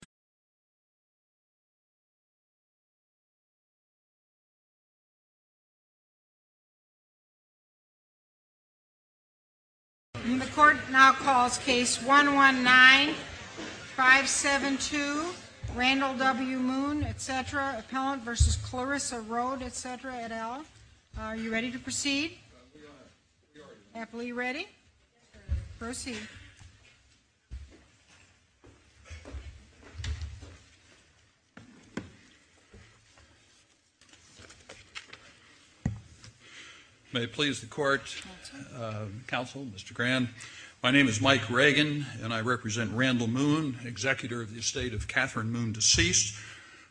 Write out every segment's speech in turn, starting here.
v. Clarissa Rhode, etc. et al. Are you ready to proceed? Are you ready? Proceed. May it please the court, counsel, Mr. Grand. My name is Mike Reagan, and I represent Randall Moon, executor of the estate of Catherine Moon Deceased,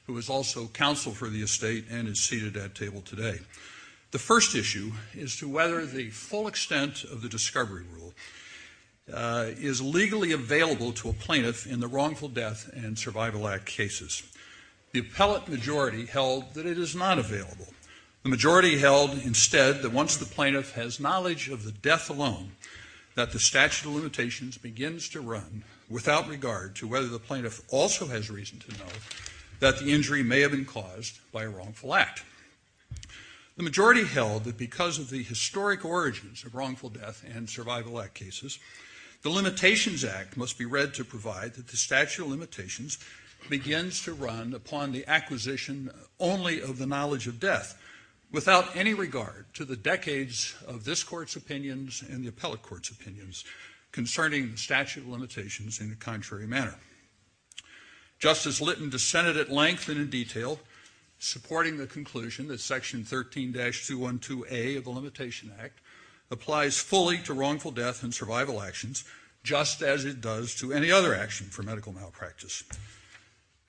who is also counsel for the estate and is seated at table today. The first issue is to whether the full extent of the discovery rule is legally available to a plaintiff in the Wrongful Death and Survival Act cases. The appellate majority held that it is not available. The majority held instead that once the plaintiff has knowledge of the death alone, that the statute of limitations begins to run without regard to whether the plaintiff also has reason to know that the injury may have been caused by a wrongful act. The majority held that because of the historic origins of Wrongful Death and Survival Act cases, the Limitations Act must be read to provide that the statute of limitations begins to run upon the acquisition only of the knowledge of death without any regard to the decades of this court's opinions and the appellate court's opinions concerning the statute of limitations in the contrary manner. Justice Lytton dissented at length and in detail, supporting the conclusion that Section 13-212A of the Limitation Act applies fully to wrongful death and survival actions just as it does to any other action for medical malpractice.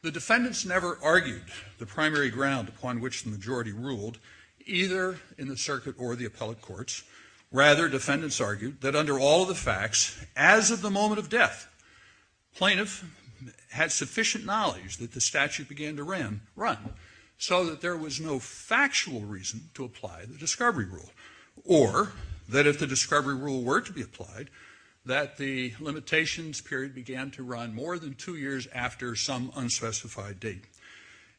The defendants never argued the primary ground upon which the majority ruled, either in the circuit or the appellate courts. Rather, defendants argued that under all the facts, as of the moment of death, plaintiff had sufficient knowledge that the statute began to run so that there was no factual reason to apply the discovery rule or that if the discovery rule were to be applied, that the limitations period began to run more than two years after some unspecified date.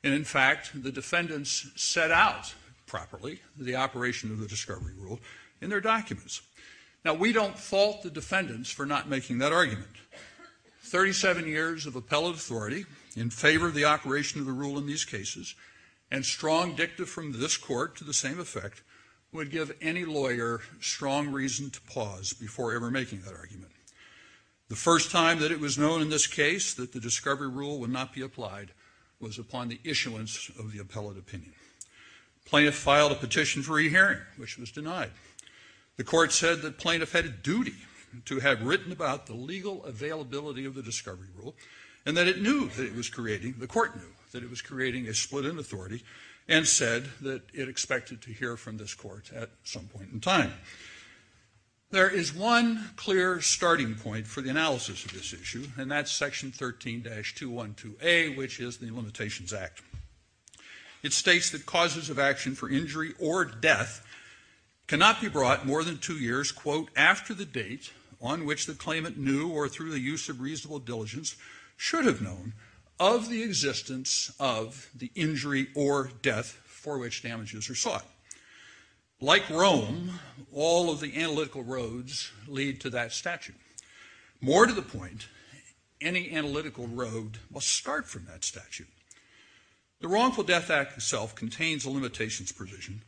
And in fact, the defendants set out properly the operation of the discovery rule in their documents. Now, we don't fault the defendants for not making that argument. Thirty-seven years of appellate authority in favor of the operation of the rule in these cases and strong dicta from this court to the same effect would give any lawyer strong reason to pause before ever making that argument. The first time that it was known in this case that the discovery rule would not be applied was upon the issuance of the appellate opinion. Plaintiff filed a petition for re-hearing, which was denied. The court said that plaintiff had a duty to have written about the legal availability of the discovery rule and that it knew that it was creating, the court knew, that it was creating a split in authority and said that it expected to hear from this court at some point in time. There is one clear starting point for the analysis of this issue and that's section 13-212A, which is the Limitations Act. It states that causes of action for injury or death cannot be brought more than two years, quote, after the date on which the claimant knew or through the use of reasonable diligence should have known of the existence of the injury or death for which damages are sought. Like Rome, all of the analytical roads lead to that statute. More to the point, any analytical road must start from that statute. The Wrongful Death Act itself contains a limitations provision,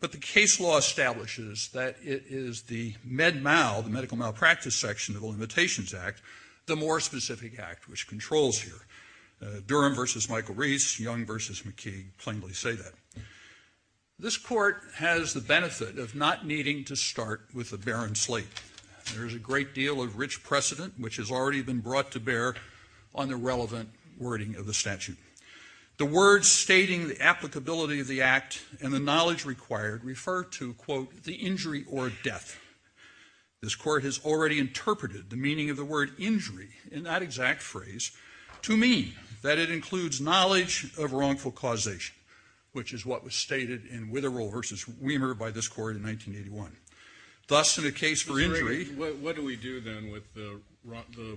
but the case law establishes that it is the med-mal, the medical malpractice section of the Limitations Act, the more specific act which controls here. Durham v. Michael Reese, Young v. McKee plainly say that. This court has the benefit of not needing to start with a barren slate. There is a great deal of rich precedent, which has already been brought to bear on the relevant wording of the statute. The words stating the applicability of the act and the knowledge required refer to, quote, the injury or death. This court has already interpreted the meaning of the word injury in that exact phrase to mean that it includes knowledge of wrongful causation, which is what was stated in Witherall v. Weimer by this court in 1981. Thus, in a case for injury- What do we do then with the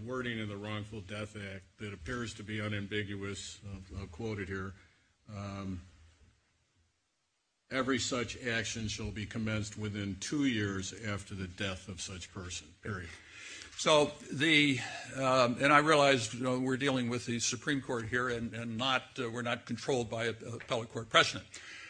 wording in the Wrongful Death Act that appears to be unambiguous, quoted here, every such action shall be commenced within two years after the death of such person, period. So the- and I realize we're dealing with the Supreme Court here and we're not controlled by an appellate court precedent.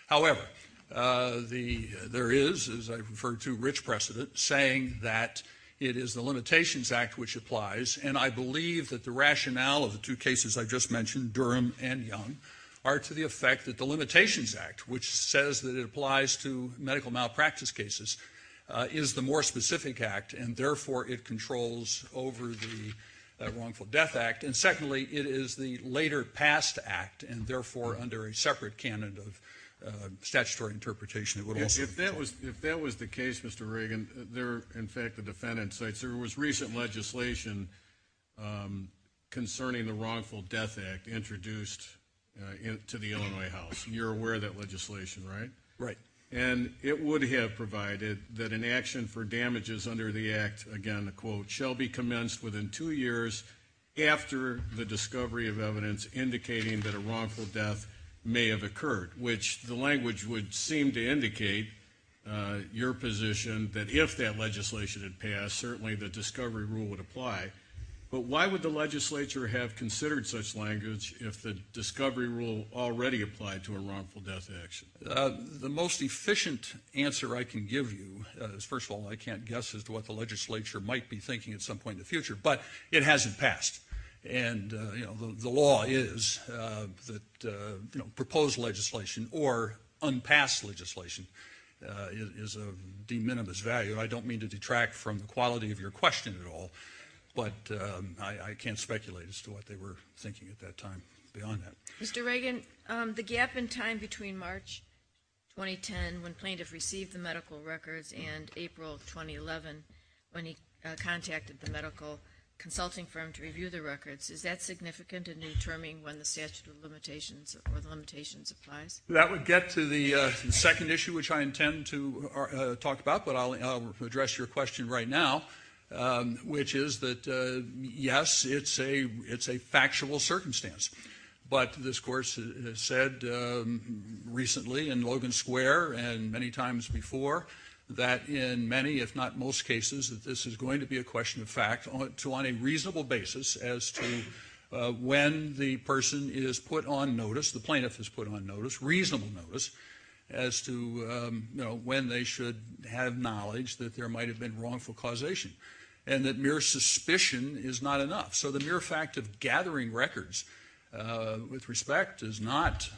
However, there is, as I referred to, rich precedent, saying that it is the Limitations Act which applies, and I believe that the rationale of the two cases I just mentioned, Durham and Young, are to the effect that the Limitations Act, which says that it applies to medical malpractice cases, is the more specific act, and therefore it controls over the Wrongful Death Act. And secondly, it is the later past act, and therefore under a separate canon of statutory interpretation, it would also- If that was the case, Mr. Reagan, there are, in fact, the defendant states there was recent legislation concerning the Wrongful Death Act introduced to the Illinois House. You're aware of that legislation, right? Right. And it would have provided that an action for damages under the act, again, a quote, shall be commenced within two years after the discovery of evidence indicating that a wrongful death may have occurred, which the language would seem to indicate your position, that if that legislation had passed, certainly the discovery rule would apply. But why would the legislature have considered such language if the discovery rule already applied to a wrongful death action? The most efficient answer I can give you is, first of all, I can't guess as to what the legislature might be thinking at some point in the future, but it hasn't passed. And, you know, the law is that, you know, I don't mean to detract from the quality of your question at all, but I can't speculate as to what they were thinking at that time beyond that. Mr. Reagan, the gap in time between March 2010 when plaintiffs received the medical records and April 2011 when he contacted the medical consulting firm to review the records, is that significant in determining when the statute of limitations or the limitations applies? That would get to the second issue, which I intend to talk about, but I'll address your question right now, which is that, yes, it's a factual circumstance. But this court has said recently in Logan Square and many times before that in many, if not most cases, that this is going to be a question of fact on a reasonable basis as to when the person is put on notice, the plaintiff is put on notice, reasonable notice, as to, you know, when they should have knowledge that there might have been wrongful causation and that mere suspicion is not enough. So the mere fact of gathering records with respect does not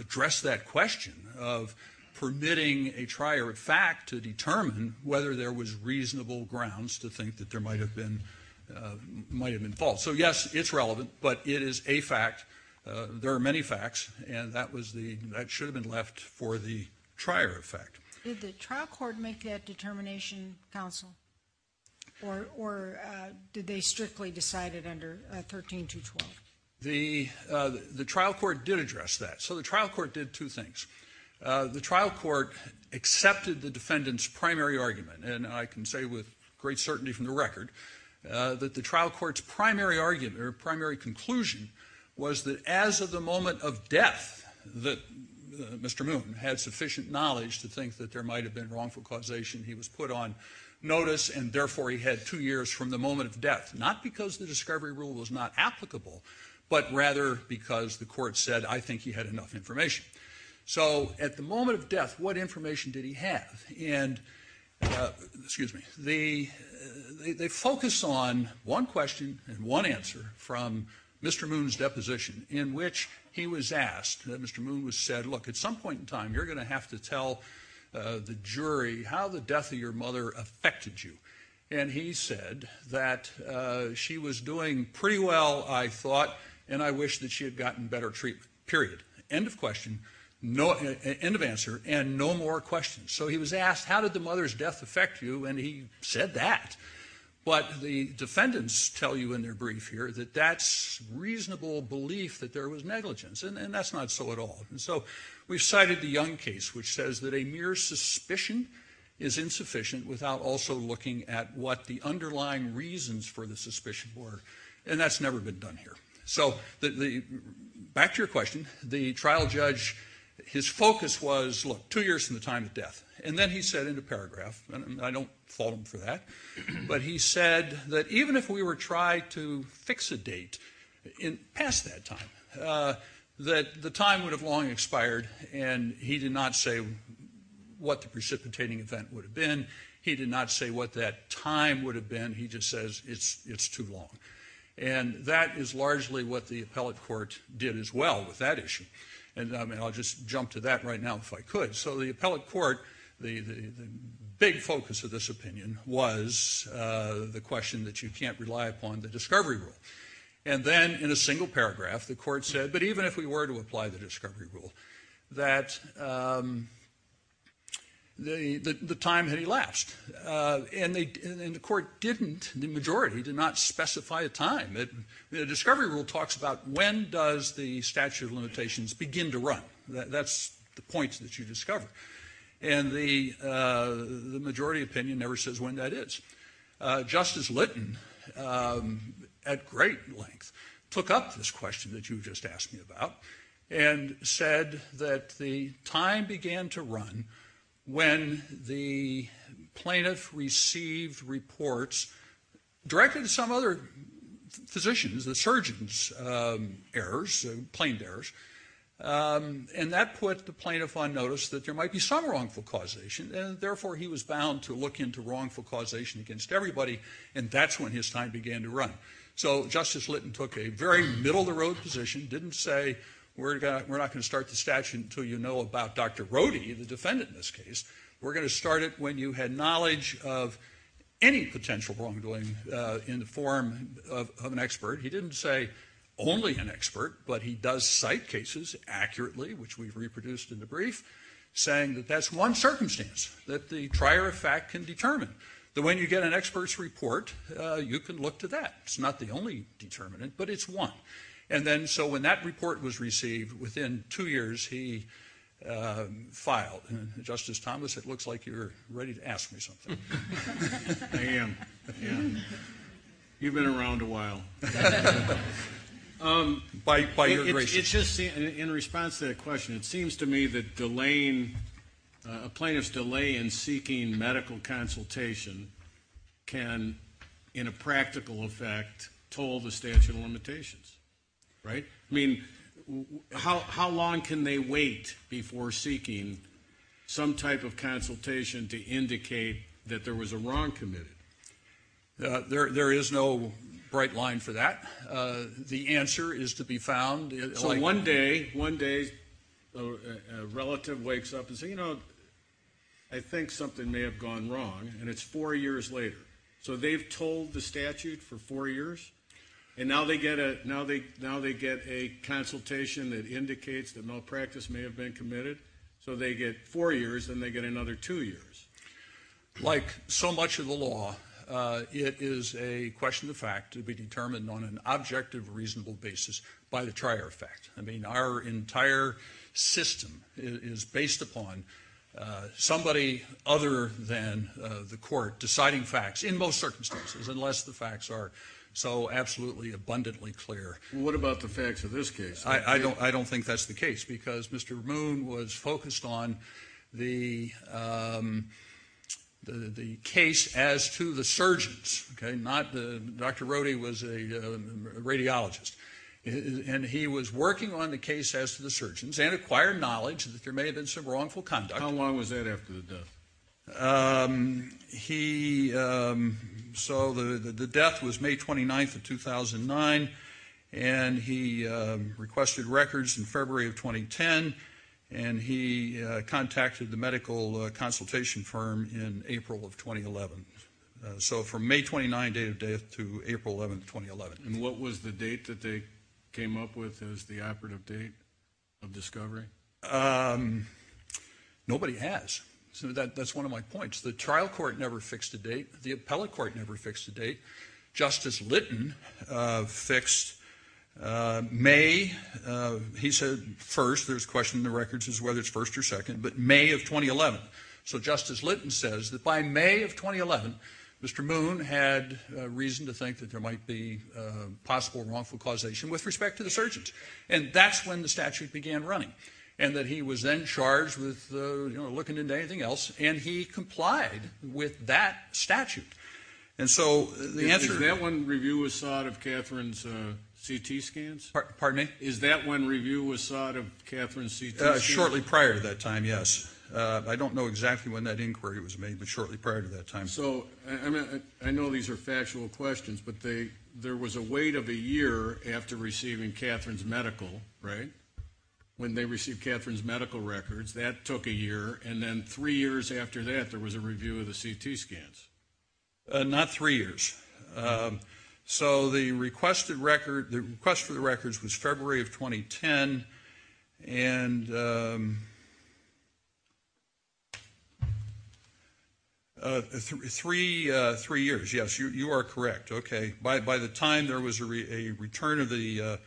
address that question of permitting a trier of fact to determine whether there was reasonable grounds to think that there might have been false. So, yes, it's relevant, but it is a fact. There are many facts, and that should have been left for the trier of fact. Did the trial court make that determination, counsel, or did they strictly decide it under 13212? The trial court did address that. So the trial court did two things. The trial court accepted the defendant's primary argument, and I can say with great certainty from the record that the trial court's primary argument or primary conclusion was that as of the moment of death that Mr. Moon had sufficient knowledge to think that there might have been wrongful causation, he was put on notice, and therefore he had two years from the moment of death, not because the discovery rule was not applicable, but rather because the court said, I think he had enough information. So at the moment of death, what information did he have? And, excuse me, they focus on one question and one answer from Mr. Moon's deposition, in which he was asked, Mr. Moon said, look, at some point in time you're going to have to tell the jury how the death of your mother affected you. And he said that she was doing pretty well, I thought, and I wish that she had gotten better treatment, period. End of question, end of answer, and no more questions. So he was asked, how did the mother's death affect you? And he said that. But the defendants tell you in their brief here that that's reasonable belief that there was negligence, and that's not so at all. And so we've cited the Young case, which says that a mere suspicion is insufficient without also looking at what the underlying reasons for the suspicion were, and that's never been done here. So back to your question, the trial judge, his focus was, look, two years from the time of death, and then he said in a paragraph, and I don't fault him for that, but he said that even if we were trying to fix a date past that time, that the time would have long expired, and he did not say what the precipitating event would have been, he did not say what that time would have been, he just says it's too long. And that is largely what the appellate court did as well with that issue. And I'll just jump to that right now if I could. So the appellate court, the big focus of this opinion was the question that you can't rely upon the discovery rule. And then in a single paragraph, the court said, but even if we were to apply the discovery rule, that the time had elapsed. And the court didn't, the majority did not specify a time. The discovery rule talks about when does the statute of limitations begin to run. That's the point that you discover. And the majority opinion never says when that is. Justice Lytton, at great length, took up this question that you just asked me about and said that the time began to run when the plaintiff received reports directed to some other physicians, the surgeon's errors, plain errors. And that put the plaintiff on notice that there might be some wrongful causation and therefore he was bound to look into wrongful causation against everybody and that's when his time began to run. So Justice Lytton took a very middle-of-the-road position, didn't say we're not going to start the statute until you know about Dr. Rohde, the defendant in this case. We're going to start it when you had knowledge of any potential wrongdoing in the form of an expert. He didn't say only an expert, but he does cite cases accurately, which we've reproduced in the brief, saying that that's one circumstance that the trier of fact can determine. That when you get an expert's report, you can look to that. It's not the only determinant, but it's one. And then so when that report was received, within two years he filed. Justice Thomas, it looks like you're ready to ask me something. I am. You've been around a while. In response to that question, it seems to me that a plaintiff's delay in seeking medical consultation can, in a practical effect, toll the statute of limitations, right? I mean, how long can they wait before seeking some type of consultation to indicate that there was a wrong committed? There is no bright line for that. The answer is to be found. So one day a relative wakes up and says, you know, I think something may have gone wrong, and it's four years later. So they've told the statute for four years, and now they get a consultation that indicates that malpractice may have been committed. So they get four years, and they get another two years. Like so much of the law, it is a question of fact to be determined on an objective, reasonable basis, by the trier effect. I mean, our entire system is based upon somebody other than the court deciding facts, in most circumstances, unless the facts are so absolutely abundantly clear. What about the facts of this case? I don't think that's the case, because Mr. Moon was focused on the case as to the surgeons, okay? Dr. Rohde was a radiologist, and he was working on the case as to the surgeons and acquired knowledge that there may have been some wrongful conduct. How long was that after the death? So the death was May 29th of 2009, and he requested records in February of 2010, and he contacted the medical consultation firm in April of 2011. So from May 29th, date of death, to April 11th, 2011. And what was the date that they came up with as the operative date of discovery? Nobody has. So that's one of my points. The trial court never fixed a date. The appellate court never fixed a date. Justice Lytton fixed May. He said first. There's a question in the records as to whether it's first or second, but May of 2011. So Justice Lytton says that by May of 2011, Mr. Moon had reason to think that there might be possible wrongful causation with respect to the surgeons. And that's when the statute began running, and that he was then charged with looking into anything else, and he complied with that statute. Is that when review was sought of Catherine's CT scans? Pardon me? Is that when review was sought of Catherine's CT scans? Shortly prior to that time, yes. I don't know exactly when that inquiry was made, but shortly prior to that time. So I know these are factual questions, but there was a wait of a year after receiving Catherine's medical, right? When they received Catherine's medical records, that took a year, and then three years after that there was a review of the CT scans. Not three years. So the request for the records was February of 2010, and three years, yes. You are correct. Okay. By the time there was a return of the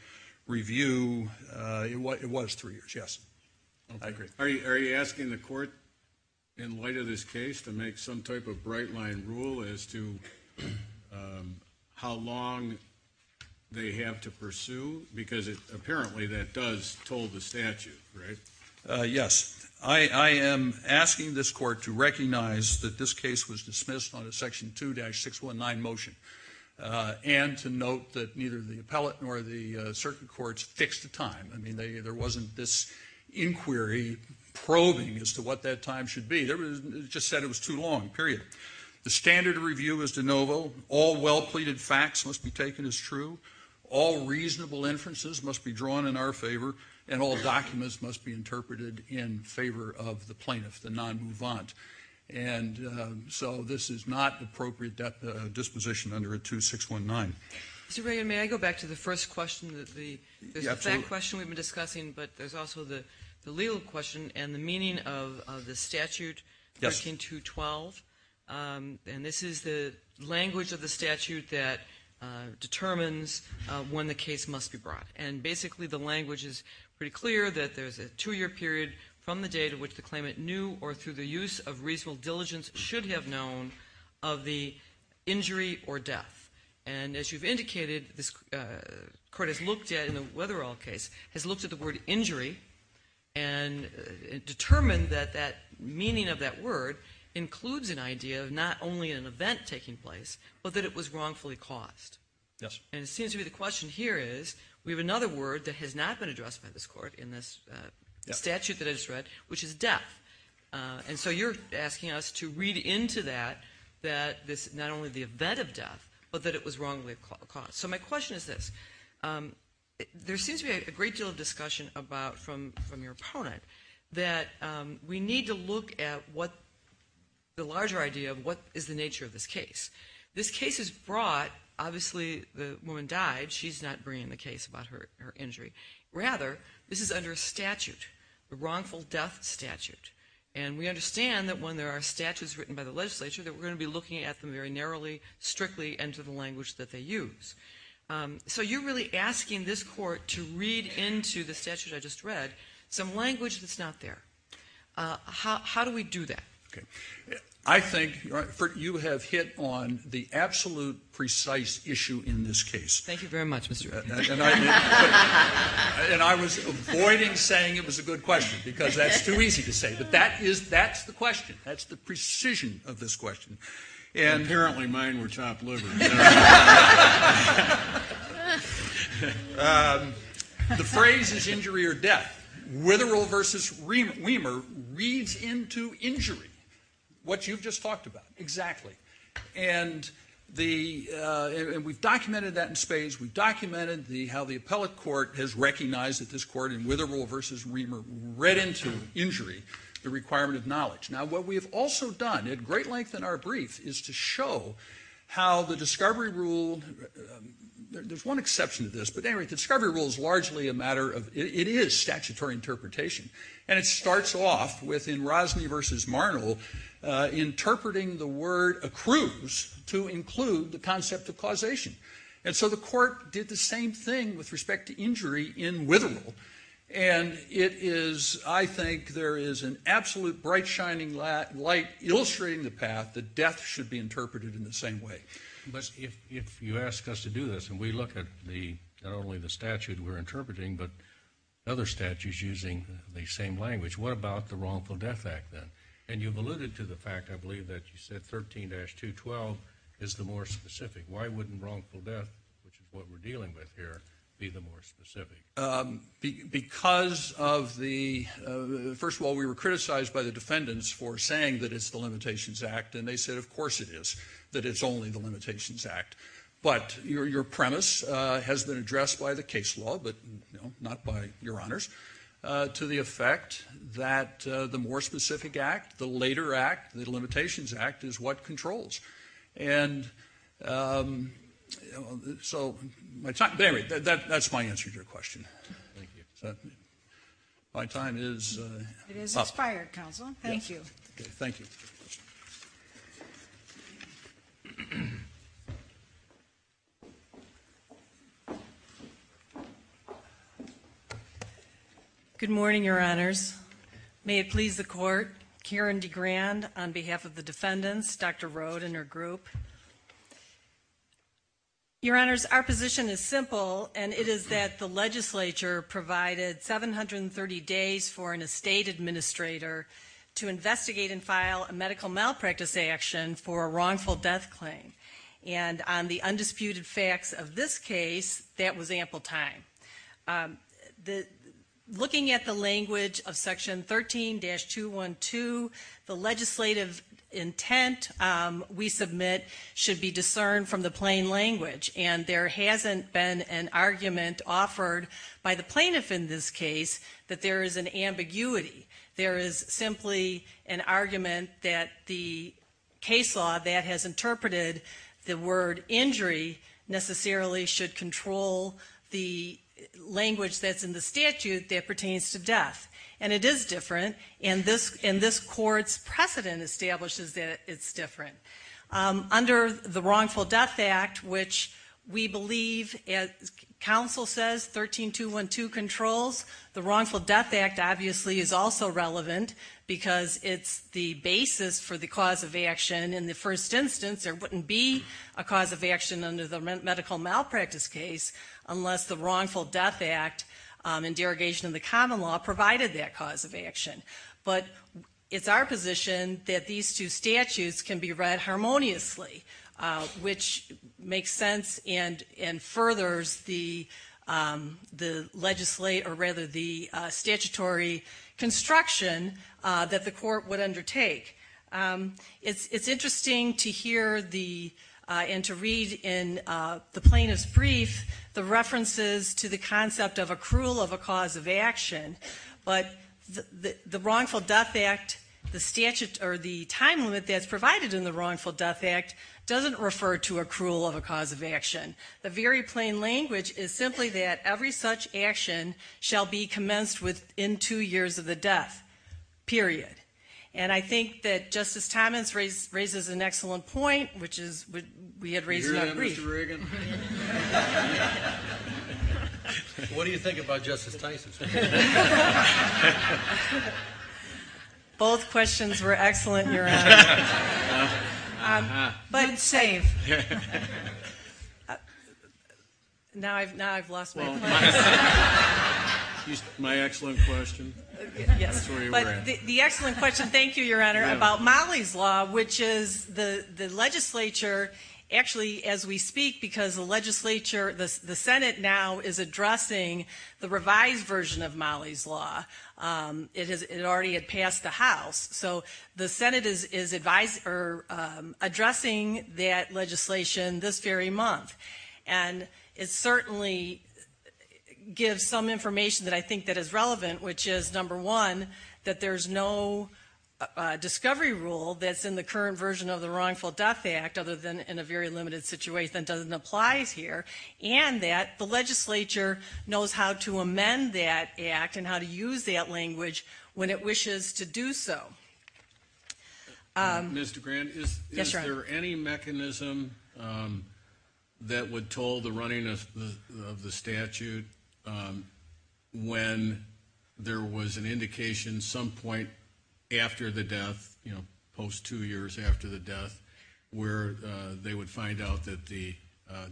review, it was three years, yes. I agree. Are you asking the court, in light of this case, to make some type of bright-line rule as to how long they have to pursue? Because apparently that does toll the statute, right? Yes. I am asking this court to recognize that this case was dismissed on a Section 2-619 motion, and to note that neither the appellate nor the circuit courts fixed a time. I mean, there wasn't this inquiry probing as to what that time should be. It just said it was too long, period. The standard review is de novo. All well-pleaded facts must be taken as true. All reasonable inferences must be drawn in our favor, and all documents must be interpreted in favor of the plaintiff, the non-movement. And so this is not appropriate disposition under a 2-619. Mr. Bragan, may I go back to the first question? There's the fact question we've been discussing, but there's also the legal question and the meaning of the statute 13212. And this is the language of the statute that determines when the case must be brought. And basically the language is pretty clear, that there's a two-year period from the date of which the claimant knew or through the use of reasonable diligence should have known of the injury or death. And as you've indicated, this court has looked at, in the Weatherall case, has looked at the word injury and determined that that meaning of that word includes an idea of not only an event taking place but that it was wrongfully caused. And it seems to me the question here is, we have another word that has not been addressed by this court in this statute that I just read, which is death. And so you're asking us to read into that, not only the event of death, but that it was wrongfully caused. So my question is this. There seems to be a great deal of discussion from your opponent that we need to look at the larger idea of what is the nature of this case. This case is brought, obviously the woman died. She's not bringing the case about her injury. Rather, this is under a statute, the wrongful death statute. And we understand that when there are statutes written by the legislature that we're going to be looking at them very narrowly, strictly, and to the language that they use. So you're really asking this court to read into the statute I just read some language that's not there. How do we do that? I think you have hit on the absolute precise issue in this case. Thank you very much, Mr. Rickenbacker. And I was avoiding saying it was a good question because that's too easy to say. But that's the question. That's the precision of this question. Apparently mine were chopped liver. The phrase is injury or death. Witherell v. Weimer reads into injury what you've just talked about. Exactly. And we've documented that in spades. We've documented how the appellate court has recognized that this court in Witherell v. Weimer read into injury the requirement of knowledge. Now, what we have also done at great length in our brief is to show how the discovery rule, there's one exception to this, but anyway, the discovery rule is largely a matter of, it is statutory interpretation. And it starts off within Rosney v. Marnell interpreting the word accrues to include the concept of causation. And so the court did the same thing with respect to injury in Witherell. And it is, I think there is an absolute bright shining light illustrating the path that death should be interpreted in the same way. But if you ask us to do this, and we look at not only the statute we're interpreting, but other statutes using the same language, what about the Wrongful Death Act then? And you've alluded to the fact, I believe, that you said 13-212 is the more specific. Why wouldn't wrongful death, which is what we're dealing with here, be the more specific? Because of the, first of all, we were criticized by the defendants for saying that it's the Limitations Act. And they said, of course it is, that it's only the Limitations Act. But your premise has been addressed by the case law, but not by your honors, to the effect that the more specific act, the later act, the Limitations Act, is what controls. And so my time, anyway, that's my answer to your question. Thank you. My time is up. It is expired, counsel. Thank you. Okay, thank you. Good morning, your honors. May it please the court, Karen DeGrand on behalf of the defendants, Dr. Road and her group. Your honors, our position is simple, and it is that the legislature provided 730 days for an estate administrator to investigate and file a medical malpractice action for a wrongful death claim. And on the undisputed facts of this case, that was ample time. Looking at the language of Section 13-212, the legislative intent we submit should be discerned from the plain language. And there hasn't been an argument offered by the plaintiff in this case that there is an ambiguity. There is simply an argument that the case law that has interpreted the word injury necessarily should control the language that's in the statute that pertains to death. And it is different, and this court's precedent establishes that it's different. Under the Wrongful Death Act, which we believe, as counsel says, 13-212 controls, the Wrongful Death Act obviously is also relevant because it's the basis for the cause of action. In the first instance, there wouldn't be a cause of action under the medical malpractice case unless the Wrongful Death Act and derogation of the common law provided that cause of action. But it's our position that these two statutes can be read harmoniously, which makes sense and furthers the statutory construction that the court would undertake. It's interesting to hear and to read in the plaintiff's brief the references to the concept of accrual of a cause of action, but the Wrongful Death Act, the statute or the time limit that's provided in the Wrongful Death Act doesn't refer to accrual of a cause of action. The very plain language is simply that every such action shall be commenced within two years of the death, period. And I think that Justice Thomas raises an excellent point, which is what we had raised in our brief. What do you think about Justice Tyson? Both questions were excellent, Your Honor. But save. Now I've lost my place. My excellent question. The excellent question, thank you, Your Honor, about Mollie's law, which is the legislature actually, as we speak, because the legislature, the Senate now is addressing the revised version of Mollie's law. It already had passed the House. So the Senate is addressing that legislation this very month. And it certainly gives some information that I think that is relevant, which is, number one, that there's no discovery rule that's in the current version of the Wrongful Death Act, other than in a very limited situation that doesn't apply here, and that the legislature knows how to amend that act and how to use that language when it wishes to do so. Mr. Grant, is there any mechanism that would toll the running of the statute when there was an indication some point after the death, you know, post-two years after the death, where they would find out that the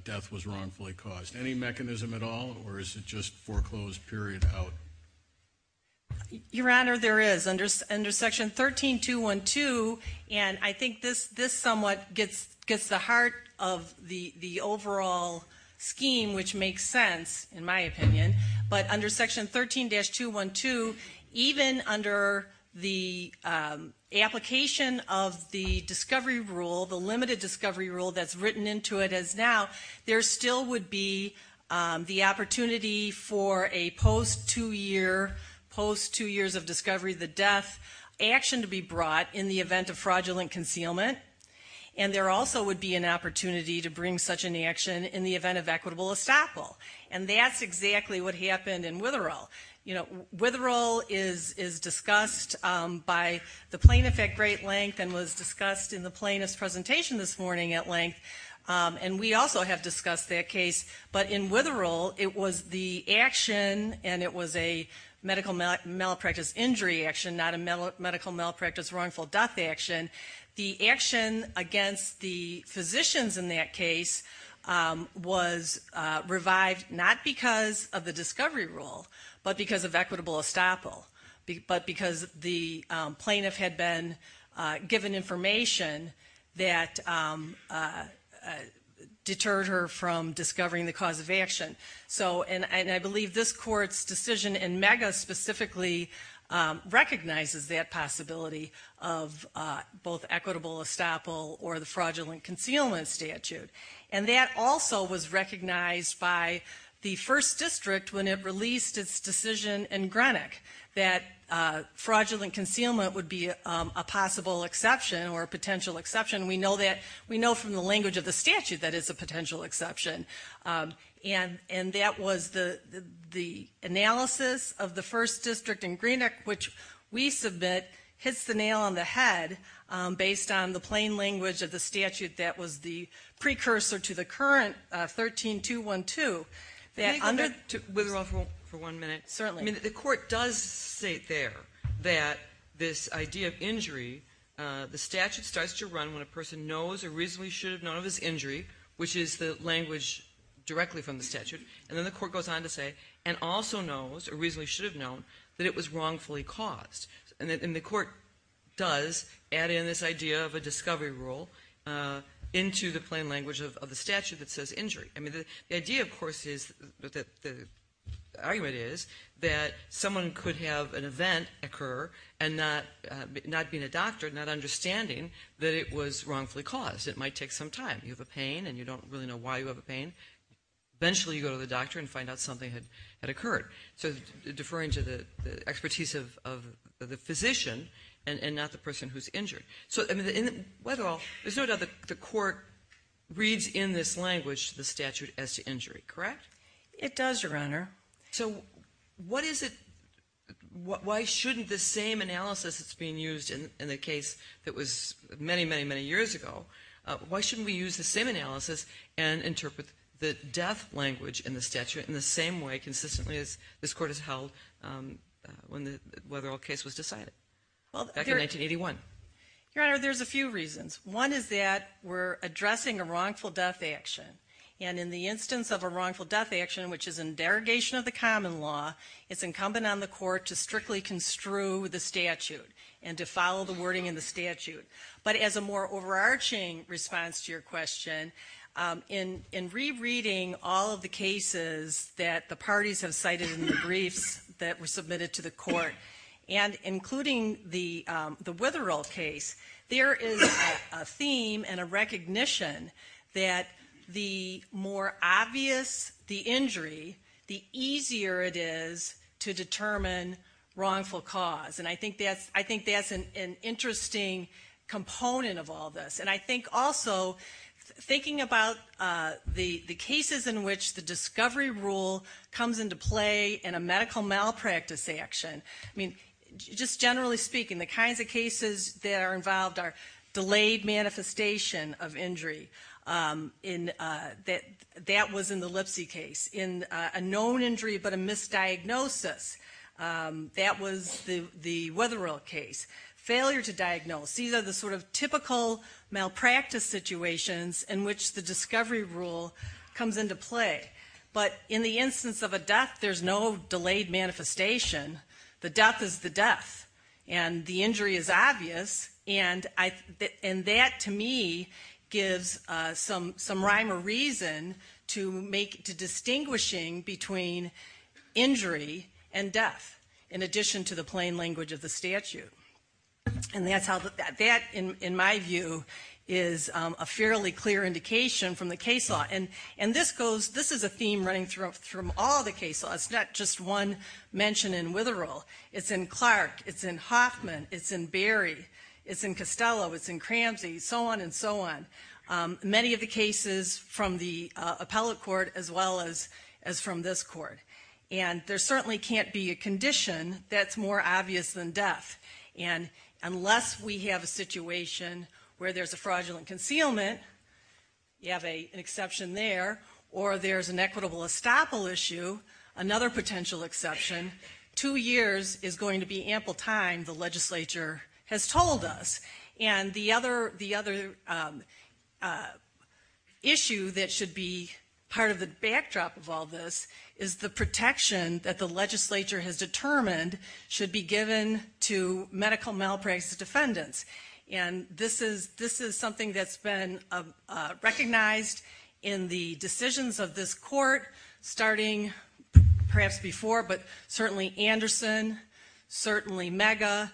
death was wrongfully caused? Any mechanism at all, or is it just foreclosed, period, out? Your Honor, there is. Under Section 13212, and I think this somewhat gets the heart of the overall scheme, which makes sense, in my opinion. But under Section 13-212, even under the application of the discovery rule, the limited discovery rule that's written into it as now, there still would be the opportunity for a post-two years of discovery, the death, action to be brought in the event of fraudulent concealment, and there also would be an opportunity to bring such an action in the event of equitable estoppel. And that's exactly what happened in Witherell. Witherell is discussed by the plaintiff at great length and was discussed in the plaintiff's presentation this morning at length, and we also have discussed that case. But in Witherell, it was the action, and it was a medical malpractice injury action, not a medical malpractice wrongful death action. The action against the physicians in that case was revived not because of the discovery rule, but because of equitable estoppel, but because the plaintiff had been given information that deterred her from discovering the cause of action. And I believe this court's decision in MEGA specifically recognizes that possibility of both equitable estoppel or the fraudulent concealment statute. And that also was recognized by the first district when it released its decision in Greenock that fraudulent concealment would be a possible exception or a potential exception. We know from the language of the statute that it's a potential exception, and that was the analysis of the first district in Greenock, which we submit hits the nail on the head based on the plain language of the statute that was the precursor to the current 13212. Can I just wither off for one minute? Certainly. The court does state there that this idea of injury, the statute starts to run when a person knows or reasonably should have known of his injury, which is the language directly from the statute. And then the court goes on to say, and also knows or reasonably should have known that it was wrongfully caused. And the court does add in this idea of a discovery rule into the plain language of the statute that says injury. I mean, the idea, of course, is that the argument is that someone could have an event occur and not being a doctor, not understanding that it was wrongfully caused. It might take some time. You have a pain and you don't really know why you have a pain. Eventually you go to the doctor and find out something had occurred. So deferring to the expertise of the physician and not the person who's injured. So there's no doubt that the court reads in this language the statute as to injury, correct? It does, Your Honor. So why shouldn't the same analysis that's being used in the case that was many, many, many years ago, why shouldn't we use the same analysis and interpret the death language in the statute in the same way consistently as this court has held whether a case was decided back in 1981? Your Honor, there's a few reasons. One is that we're addressing a wrongful death action. And in the instance of a wrongful death action, which is in derogation of the common law, it's incumbent on the court to strictly construe the statute and to follow the wording in the statute. But as a more overarching response to your question, in rereading all of the cases that the parties have cited in the briefs that were submitted to the court, and including the Witherall case, there is a theme and a recognition that the more obvious the injury, the easier it is to determine wrongful cause. And I think that's an interesting component of all this. And I think also thinking about the cases in which the discovery rule comes into play in a medical malpractice action. I mean, just generally speaking, the kinds of cases that are involved are delayed manifestation of injury. That was in the Lipsey case. It's in a known injury but a misdiagnosis. That was the Witherall case. Failure to diagnose. These are the sort of typical malpractice situations in which the discovery rule comes into play. But in the instance of a death, there's no delayed manifestation. And the injury is obvious. And that, to me, gives some rhyme or reason to distinguishing between injury and death, in addition to the plain language of the statute. And that, in my view, is a fairly clear indication from the case law. And this is a theme running through all the case laws. It's not just one mention in Witherall. It's in Clark. It's in Hoffman. It's in Berry. It's in Costello. It's in Cramsey. So on and so on. Many of the cases from the appellate court as well as from this court. And there certainly can't be a condition that's more obvious than death. And unless we have a situation where there's a fraudulent concealment, you have an exception there, or there's an equitable estoppel issue, another potential exception, two years is going to be ample time, the legislature has told us. And the other issue that should be part of the backdrop of all this is the protection that the legislature has determined should be given to medical malpractice defendants. And this is something that's been recognized in the decisions of this court, starting perhaps before, but certainly Anderson, certainly Mega,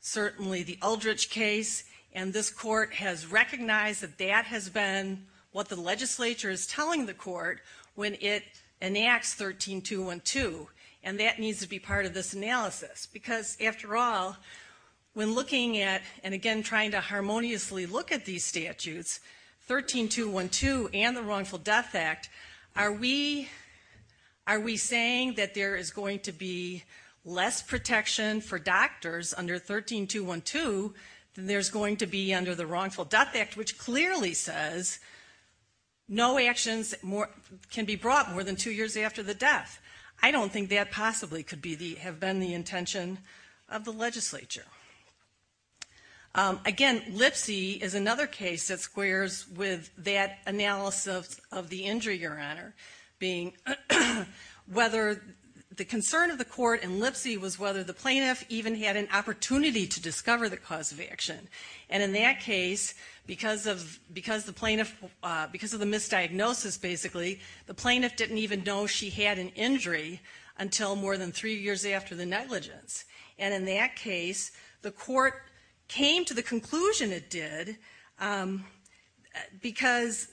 certainly the Eldridge case. And this court has recognized that that has been what the legislature is telling the court when it enacts 13212. And that needs to be part of this analysis. Because, after all, when looking at, and again trying to harmoniously look at these statutes, 13212 and the Wrongful Death Act, are we saying that there is going to be less protection for doctors under 13212 than there's going to be under the Wrongful Death Act, which clearly says no actions can be brought more than two years after the death. I don't think that possibly could have been the intention of the legislature. Again, Lipsey is another case that squares with that analysis of the injury, Your Honor, being whether the concern of the court in Lipsey was whether the plaintiff even had an opportunity to discover the cause of action. And in that case, because of the misdiagnosis, basically, the plaintiff didn't even know she had an injury until more than three years after the negligence. And in that case, the court came to the conclusion it did because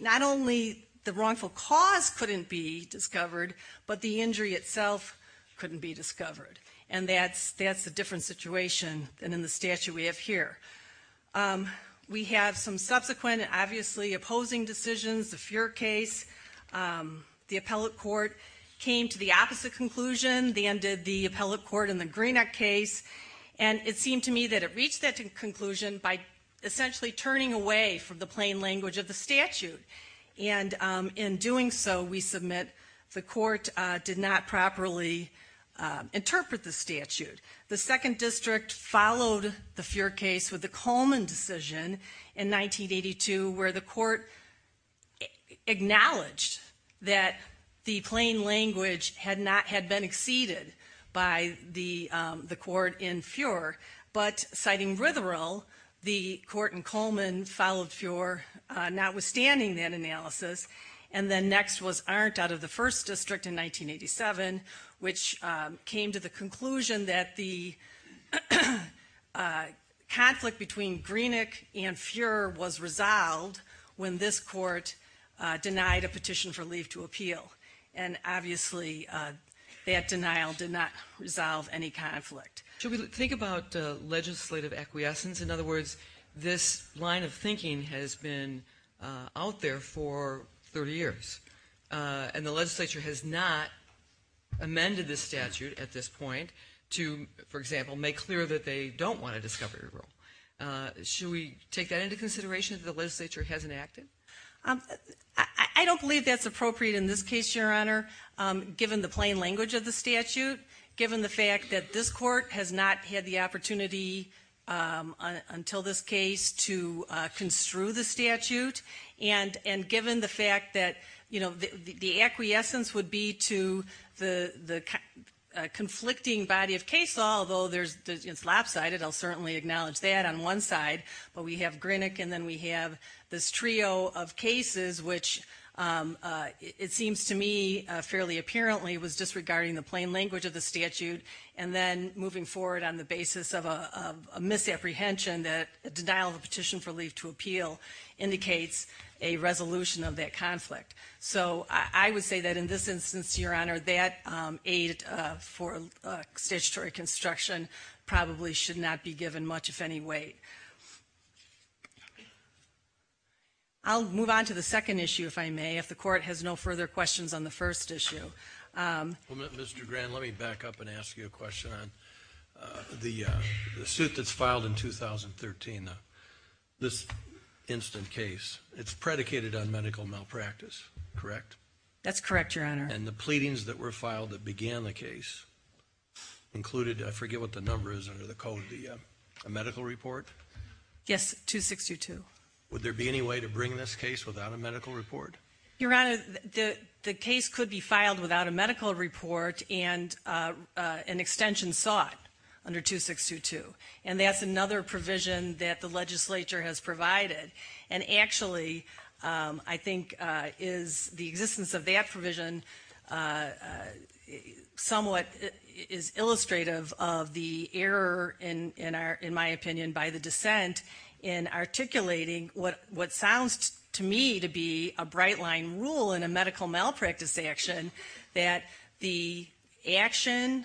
not only the wrongful cause couldn't be discovered, but the injury itself couldn't be discovered. And that's a different situation than in the statute we have here. We have some subsequent and obviously opposing decisions. The Feuer case, the appellate court came to the opposite conclusion. They ended the appellate court in the Greenock case. And it seemed to me that it reached that conclusion by essentially turning away from the plain language of the statute. And in doing so, we submit the court did not properly interpret the statute. The second district followed the Feuer case with the Coleman decision in 1982, where the court acknowledged that the plain language had been exceeded by the court in Feuer. But, citing Ritherell, the court in Coleman followed Feuer notwithstanding that analysis. And then next was Arndt out of the first district in 1987, which came to the conclusion that the conflict between Greenock and Feuer was resolved when this court denied a petition for leave to appeal. And obviously, that denial did not resolve any conflict. Should we think about legislative acquiescence? In other words, this line of thinking has been out there for 30 years. And the legislature has not amended the statute at this point to, for example, make clear that they don't want a discovery rule. Should we take that into consideration if the legislature hasn't acted? I don't believe that's appropriate in this case, Your Honor, given the plain language of the statute, given the fact that this court has not had the opportunity until this case to construe the statute, and given the fact that the acquiescence would be to the conflicting body of case law, although it's lopsided, I'll certainly acknowledge that on one side, but we have Greenock and then we have this trio of cases, which it seems to me fairly apparently was disregarding the plain language of the statute, and then moving forward on the basis of a misapprehension that denial of a petition for leave to appeal indicates a resolution of that conflict. So I would say that in this instance, Your Honor, that aid for statutory construction probably should not be given much, if any, weight. I'll move on to the second issue, if I may, if the court has no further questions on the first issue. Mr. Grand, let me back up and ask you a question on the suit that's filed in 2013. This instant case, it's predicated on medical malpractice, correct? That's correct, Your Honor. And the pleadings that were filed that began the case included, I forget what the number is under the code, a medical report? Yes, 2622. Would there be any way to bring this case without a medical report? Your Honor, the case could be filed without a medical report and an extension sought under 2622, and that's another provision that the legislature has provided. And actually, I think the existence of that provision somewhat is illustrative of the error, in my opinion, by the dissent in articulating what sounds to me to be a bright-line rule in a medical malpractice action, that the action,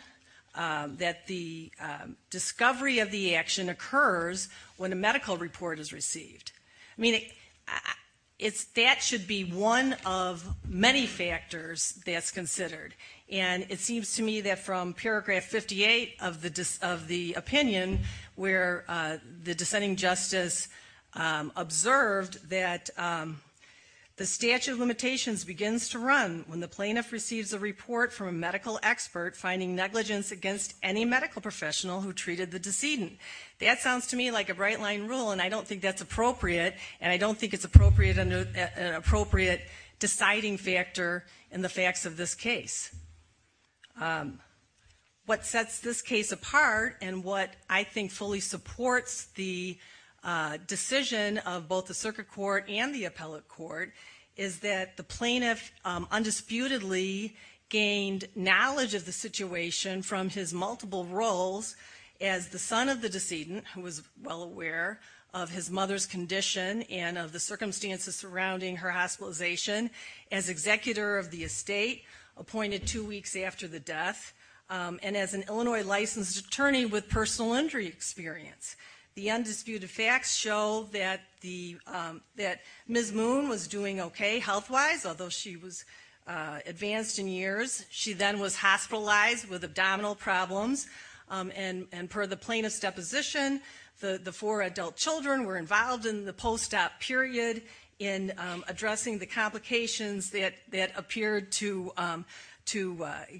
that the discovery of the action occurs when a medical report is received. I mean, that should be one of many factors that's considered. And it seems to me that from paragraph 58 of the opinion where the dissenting justice observed that the statute of limitations begins to run when the plaintiff receives a report from a medical expert finding negligence against any medical professional who treated the decedent. That sounds to me like a bright-line rule, and I don't think that's appropriate, and I don't think it's an appropriate deciding factor in the facts of this case. What sets this case apart and what I think fully supports the decision of both the circuit court and the appellate court is that the plaintiff undisputedly gained knowledge of the situation from his multiple roles as the son of the decedent, who was well aware of his mother's condition and of the circumstances surrounding her hospitalization, as executor of the estate, appointed two weeks after the death, and as an Illinois licensed attorney with personal injury experience. The undisputed facts show that Ms. Moon was doing okay health-wise, although she was advanced in years. She then was hospitalized with abdominal problems, and per the plaintiff's deposition, the four adult children were involved in the post-op period in addressing the complications that appeared to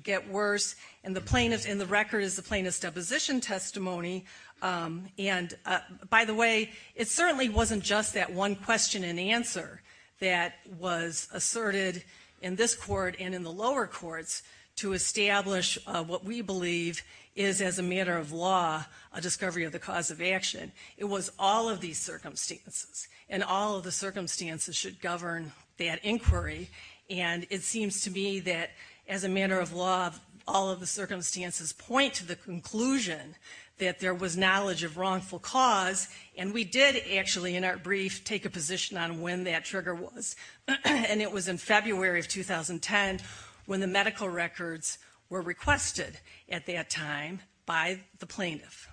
get worse, and the record is the plaintiff's deposition testimony. By the way, it certainly wasn't just that one question and answer that was asserted in this court and in the lower courts to establish what we believe is, as a matter of law, a discovery of the cause of action. It was all of these circumstances, and all of the circumstances should govern that inquiry, and it seems to me that, as a matter of law, all of the circumstances point to the conclusion that there was knowledge of wrongful cause, and we did actually, in our brief, take a position on when that trigger was, and it was in February of 2010, when the medical records were requested at that time by the plaintiff.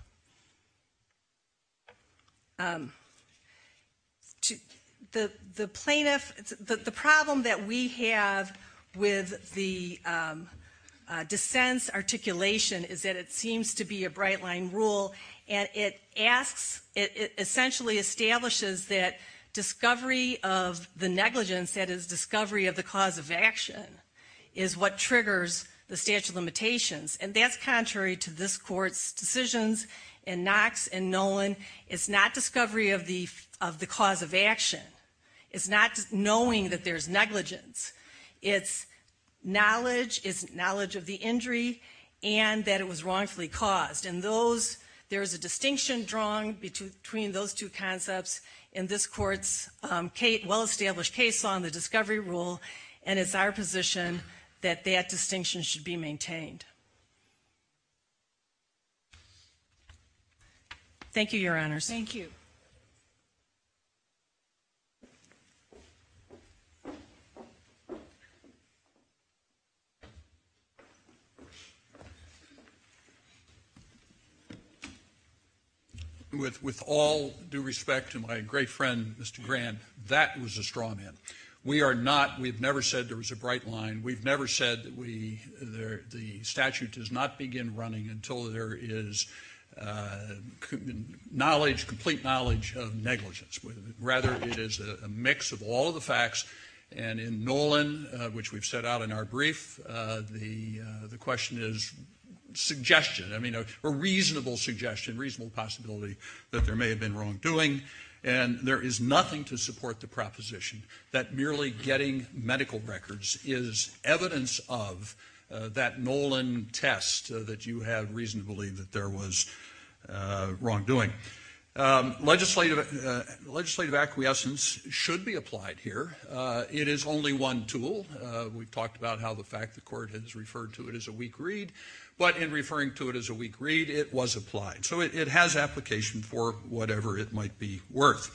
The problem that we have with the dissent's articulation is that it seems to be a bright-line rule, and it essentially establishes that discovery of the negligence, that is, discovery of the cause of action, is what triggers the statute of limitations, and that's contrary to this court's decisions in Knox and Nolan. It's not discovery of the cause of action. It's not knowing that there's negligence. It's knowledge of the injury and that it was wrongfully caused, and there is a distinction drawn between those two concepts in this court's well-established case law and the discovery rule, and it's our position that that distinction should be maintained. Thank you, Your Honors. Thank you. With all due respect to my great friend, Mr. Grant, that was a straw man. We are not – we've never said there was a bright line. We've never said that we – the statute does not begin running until there is knowledge, complete knowledge of negligence. Rather, it is a mix of all of the facts, and in Nolan, which we've set out in our brief, the question is suggestion, I mean a reasonable suggestion, reasonable possibility that there may have been wrongdoing, and there is nothing to support the proposition that merely getting medical records is evidence of that Nolan test that you have reason to believe that there was wrongdoing. Legislative acquiescence should be applied here. It is only one tool. We've talked about how the fact the court has referred to it as a weak read, but in referring to it as a weak read, it was applied. So it has application for whatever it might be worth.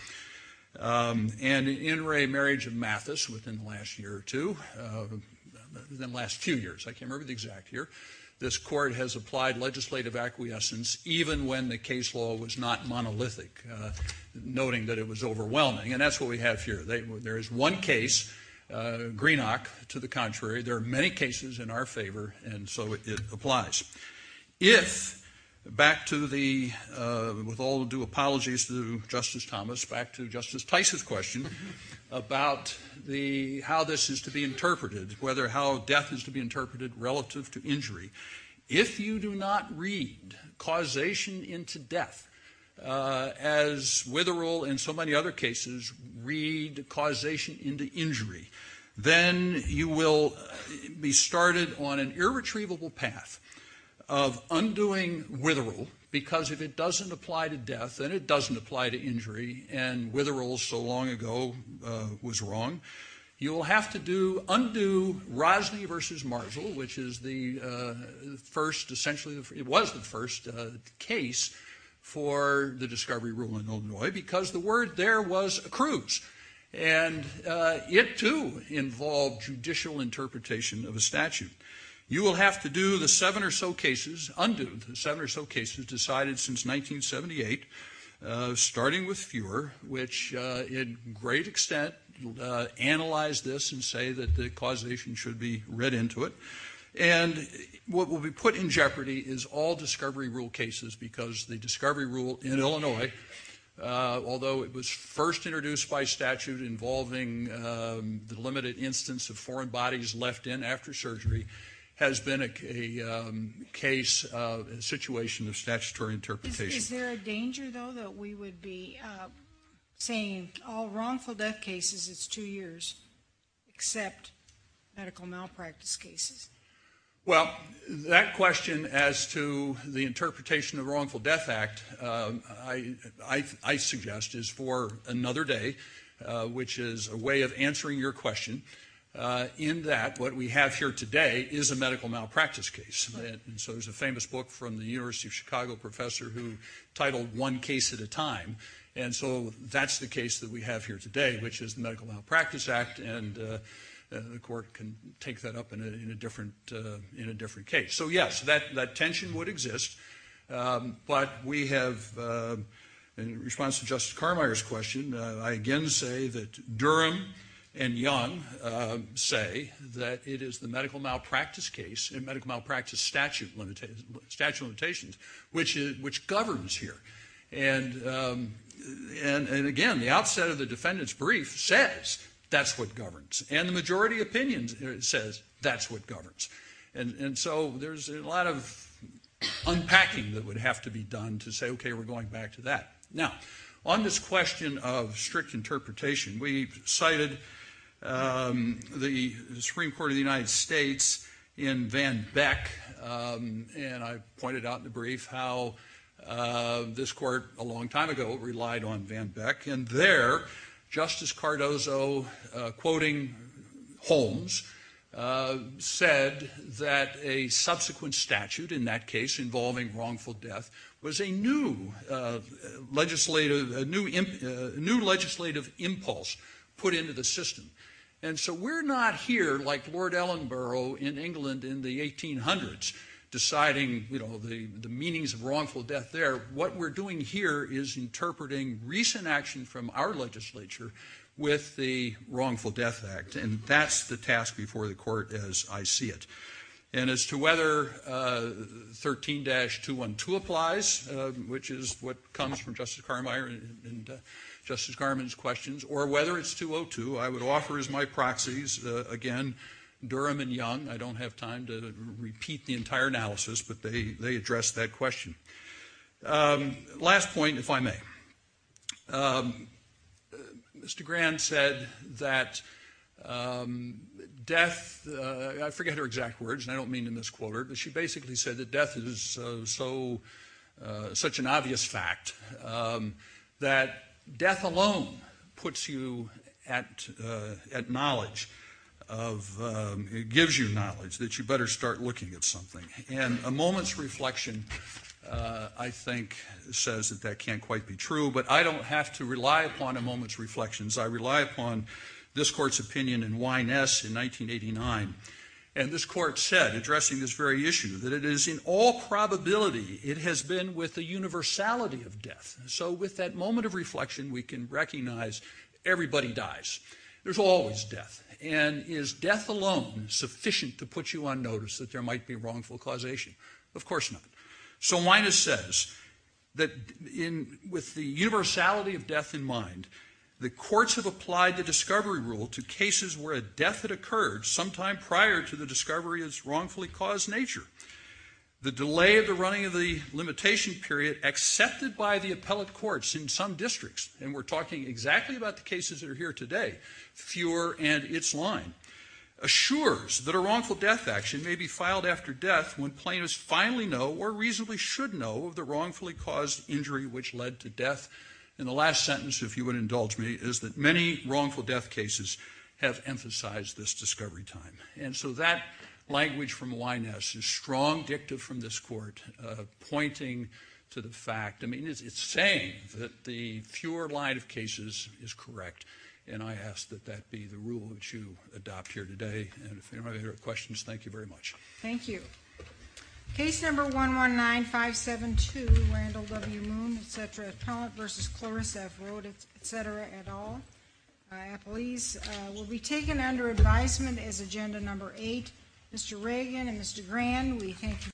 And in re-marriage of Mathis within the last year or two, the last few years, I can't remember the exact year, this court has applied legislative acquiescence even when the case law was not monolithic, noting that it was overwhelming, and that's what we have here. There is one case, Greenock, to the contrary. There are many cases in our favor, and so it applies. If, back to the, with all due apologies to Justice Thomas, back to Justice Tice's question about how this is to be interpreted, whether how death is to be interpreted relative to injury. If you do not read causation into death, as Witherell and so many other cases read causation into injury, then you will be started on an irretrievable path of undoing Witherell, because if it doesn't apply to death, then it doesn't apply to injury, and Witherell so long ago was wrong. You will have to undo Rosney v. Marzl, which is the first, essentially it was the first case for the discovery rule in Illinois, because the word there was accrues, and it too involved judicial interpretation of a statute. You will have to do the seven or so cases, undo the seven or so cases decided since 1978, starting with Fewer, which in great extent analyzed this and say that the causation should be read into it. And what will be put in jeopardy is all discovery rule cases, because the discovery rule in Illinois, although it was first introduced by statute involving the limited instance of foreign bodies left in after surgery, has been a case, a situation of statutory interpretation. Is there a danger, though, that we would be saying all wrongful death cases, it's two years, except medical malpractice cases? Well, that question as to the interpretation of the Wrongful Death Act, I suggest is for another day, which is a way of answering your question, in that what we have here today is a medical malpractice case. And so there's a famous book from the University of Chicago professor who titled One Case at a Time. And so that's the case that we have here today, which is the Medical Malpractice Act. And the court can take that up in a different case. So, yes, that tension would exist. But we have, in response to Justice Carmeier's question, I again say that Durham and Young say that it is the medical malpractice case and medical malpractice statute limitations which governs here. And again, the outset of the defendant's brief says that's what governs. And the majority opinion says that's what governs. And so there's a lot of unpacking that would have to be done to say, okay, we're going back to that. Now, on this question of strict interpretation, we cited the Supreme Court of the United States in Van Beck. And I pointed out in the brief how this court a long time ago relied on Van Beck. And there, Justice Cardozo, quoting Holmes, said that a subsequent statute in that case involving wrongful death was a new legislative impulse put into the system. And so we're not here, like Lord Ellenborough in England in the 1800s, deciding the meanings of wrongful death there. What we're doing here is interpreting recent action from our legislature with the Wrongful Death Act. And that's the task before the court as I see it. And as to whether 13-212 applies, which is what comes from Justice Carmeier and Justice Garmon's questions, or whether it's 202, I would offer as my proxies, again, Durham and Young. I don't have time to repeat the entire analysis, but they addressed that question. Last point, if I may. Mr. Grand said that death, I forget her exact words, and I don't mean to misquote her, but she basically said that death is such an obvious fact, that death alone puts you at knowledge of, it gives you knowledge that you better start looking at something. And a moment's reflection, I think, says that that can't quite be true, but I don't have to rely upon a moment's reflections. I rely upon this court's opinion in Wyness in 1989. And this court said, addressing this very issue, that it is in all probability it has been with the universality of death. So with that moment of reflection, we can recognize everybody dies. There's always death. And is death alone sufficient to put you on notice that there might be wrongful causation? Of course not. So Wyness says that with the universality of death in mind, the courts have applied the discovery rule to cases where a death had occurred sometime prior to the discovery of its wrongfully caused nature. The delay of the running of the limitation period accepted by the appellate courts in some districts, and we're talking exactly about the cases that are here today, fewer and its line, assures that a wrongful death action may be filed after death when plaintiffs finally know or reasonably should know of the wrongfully caused injury which led to death. And the last sentence, if you would indulge me, is that many wrongful death cases have emphasized this discovery time. And so that language from Wyness is strong dictum from this court, pointing to the fact, I mean, it's saying that the fewer line of cases is correct. And I ask that that be the rule that you adopt here today. And if anybody here have questions, thank you very much. Thank you. Case number 119572, Randall W. Moon, et cetera, Appellant v. Chloris F. Road, et cetera, et al., will be taken under advisement as agenda number eight. Mr. Reagan and Mr. Grand, we thank you.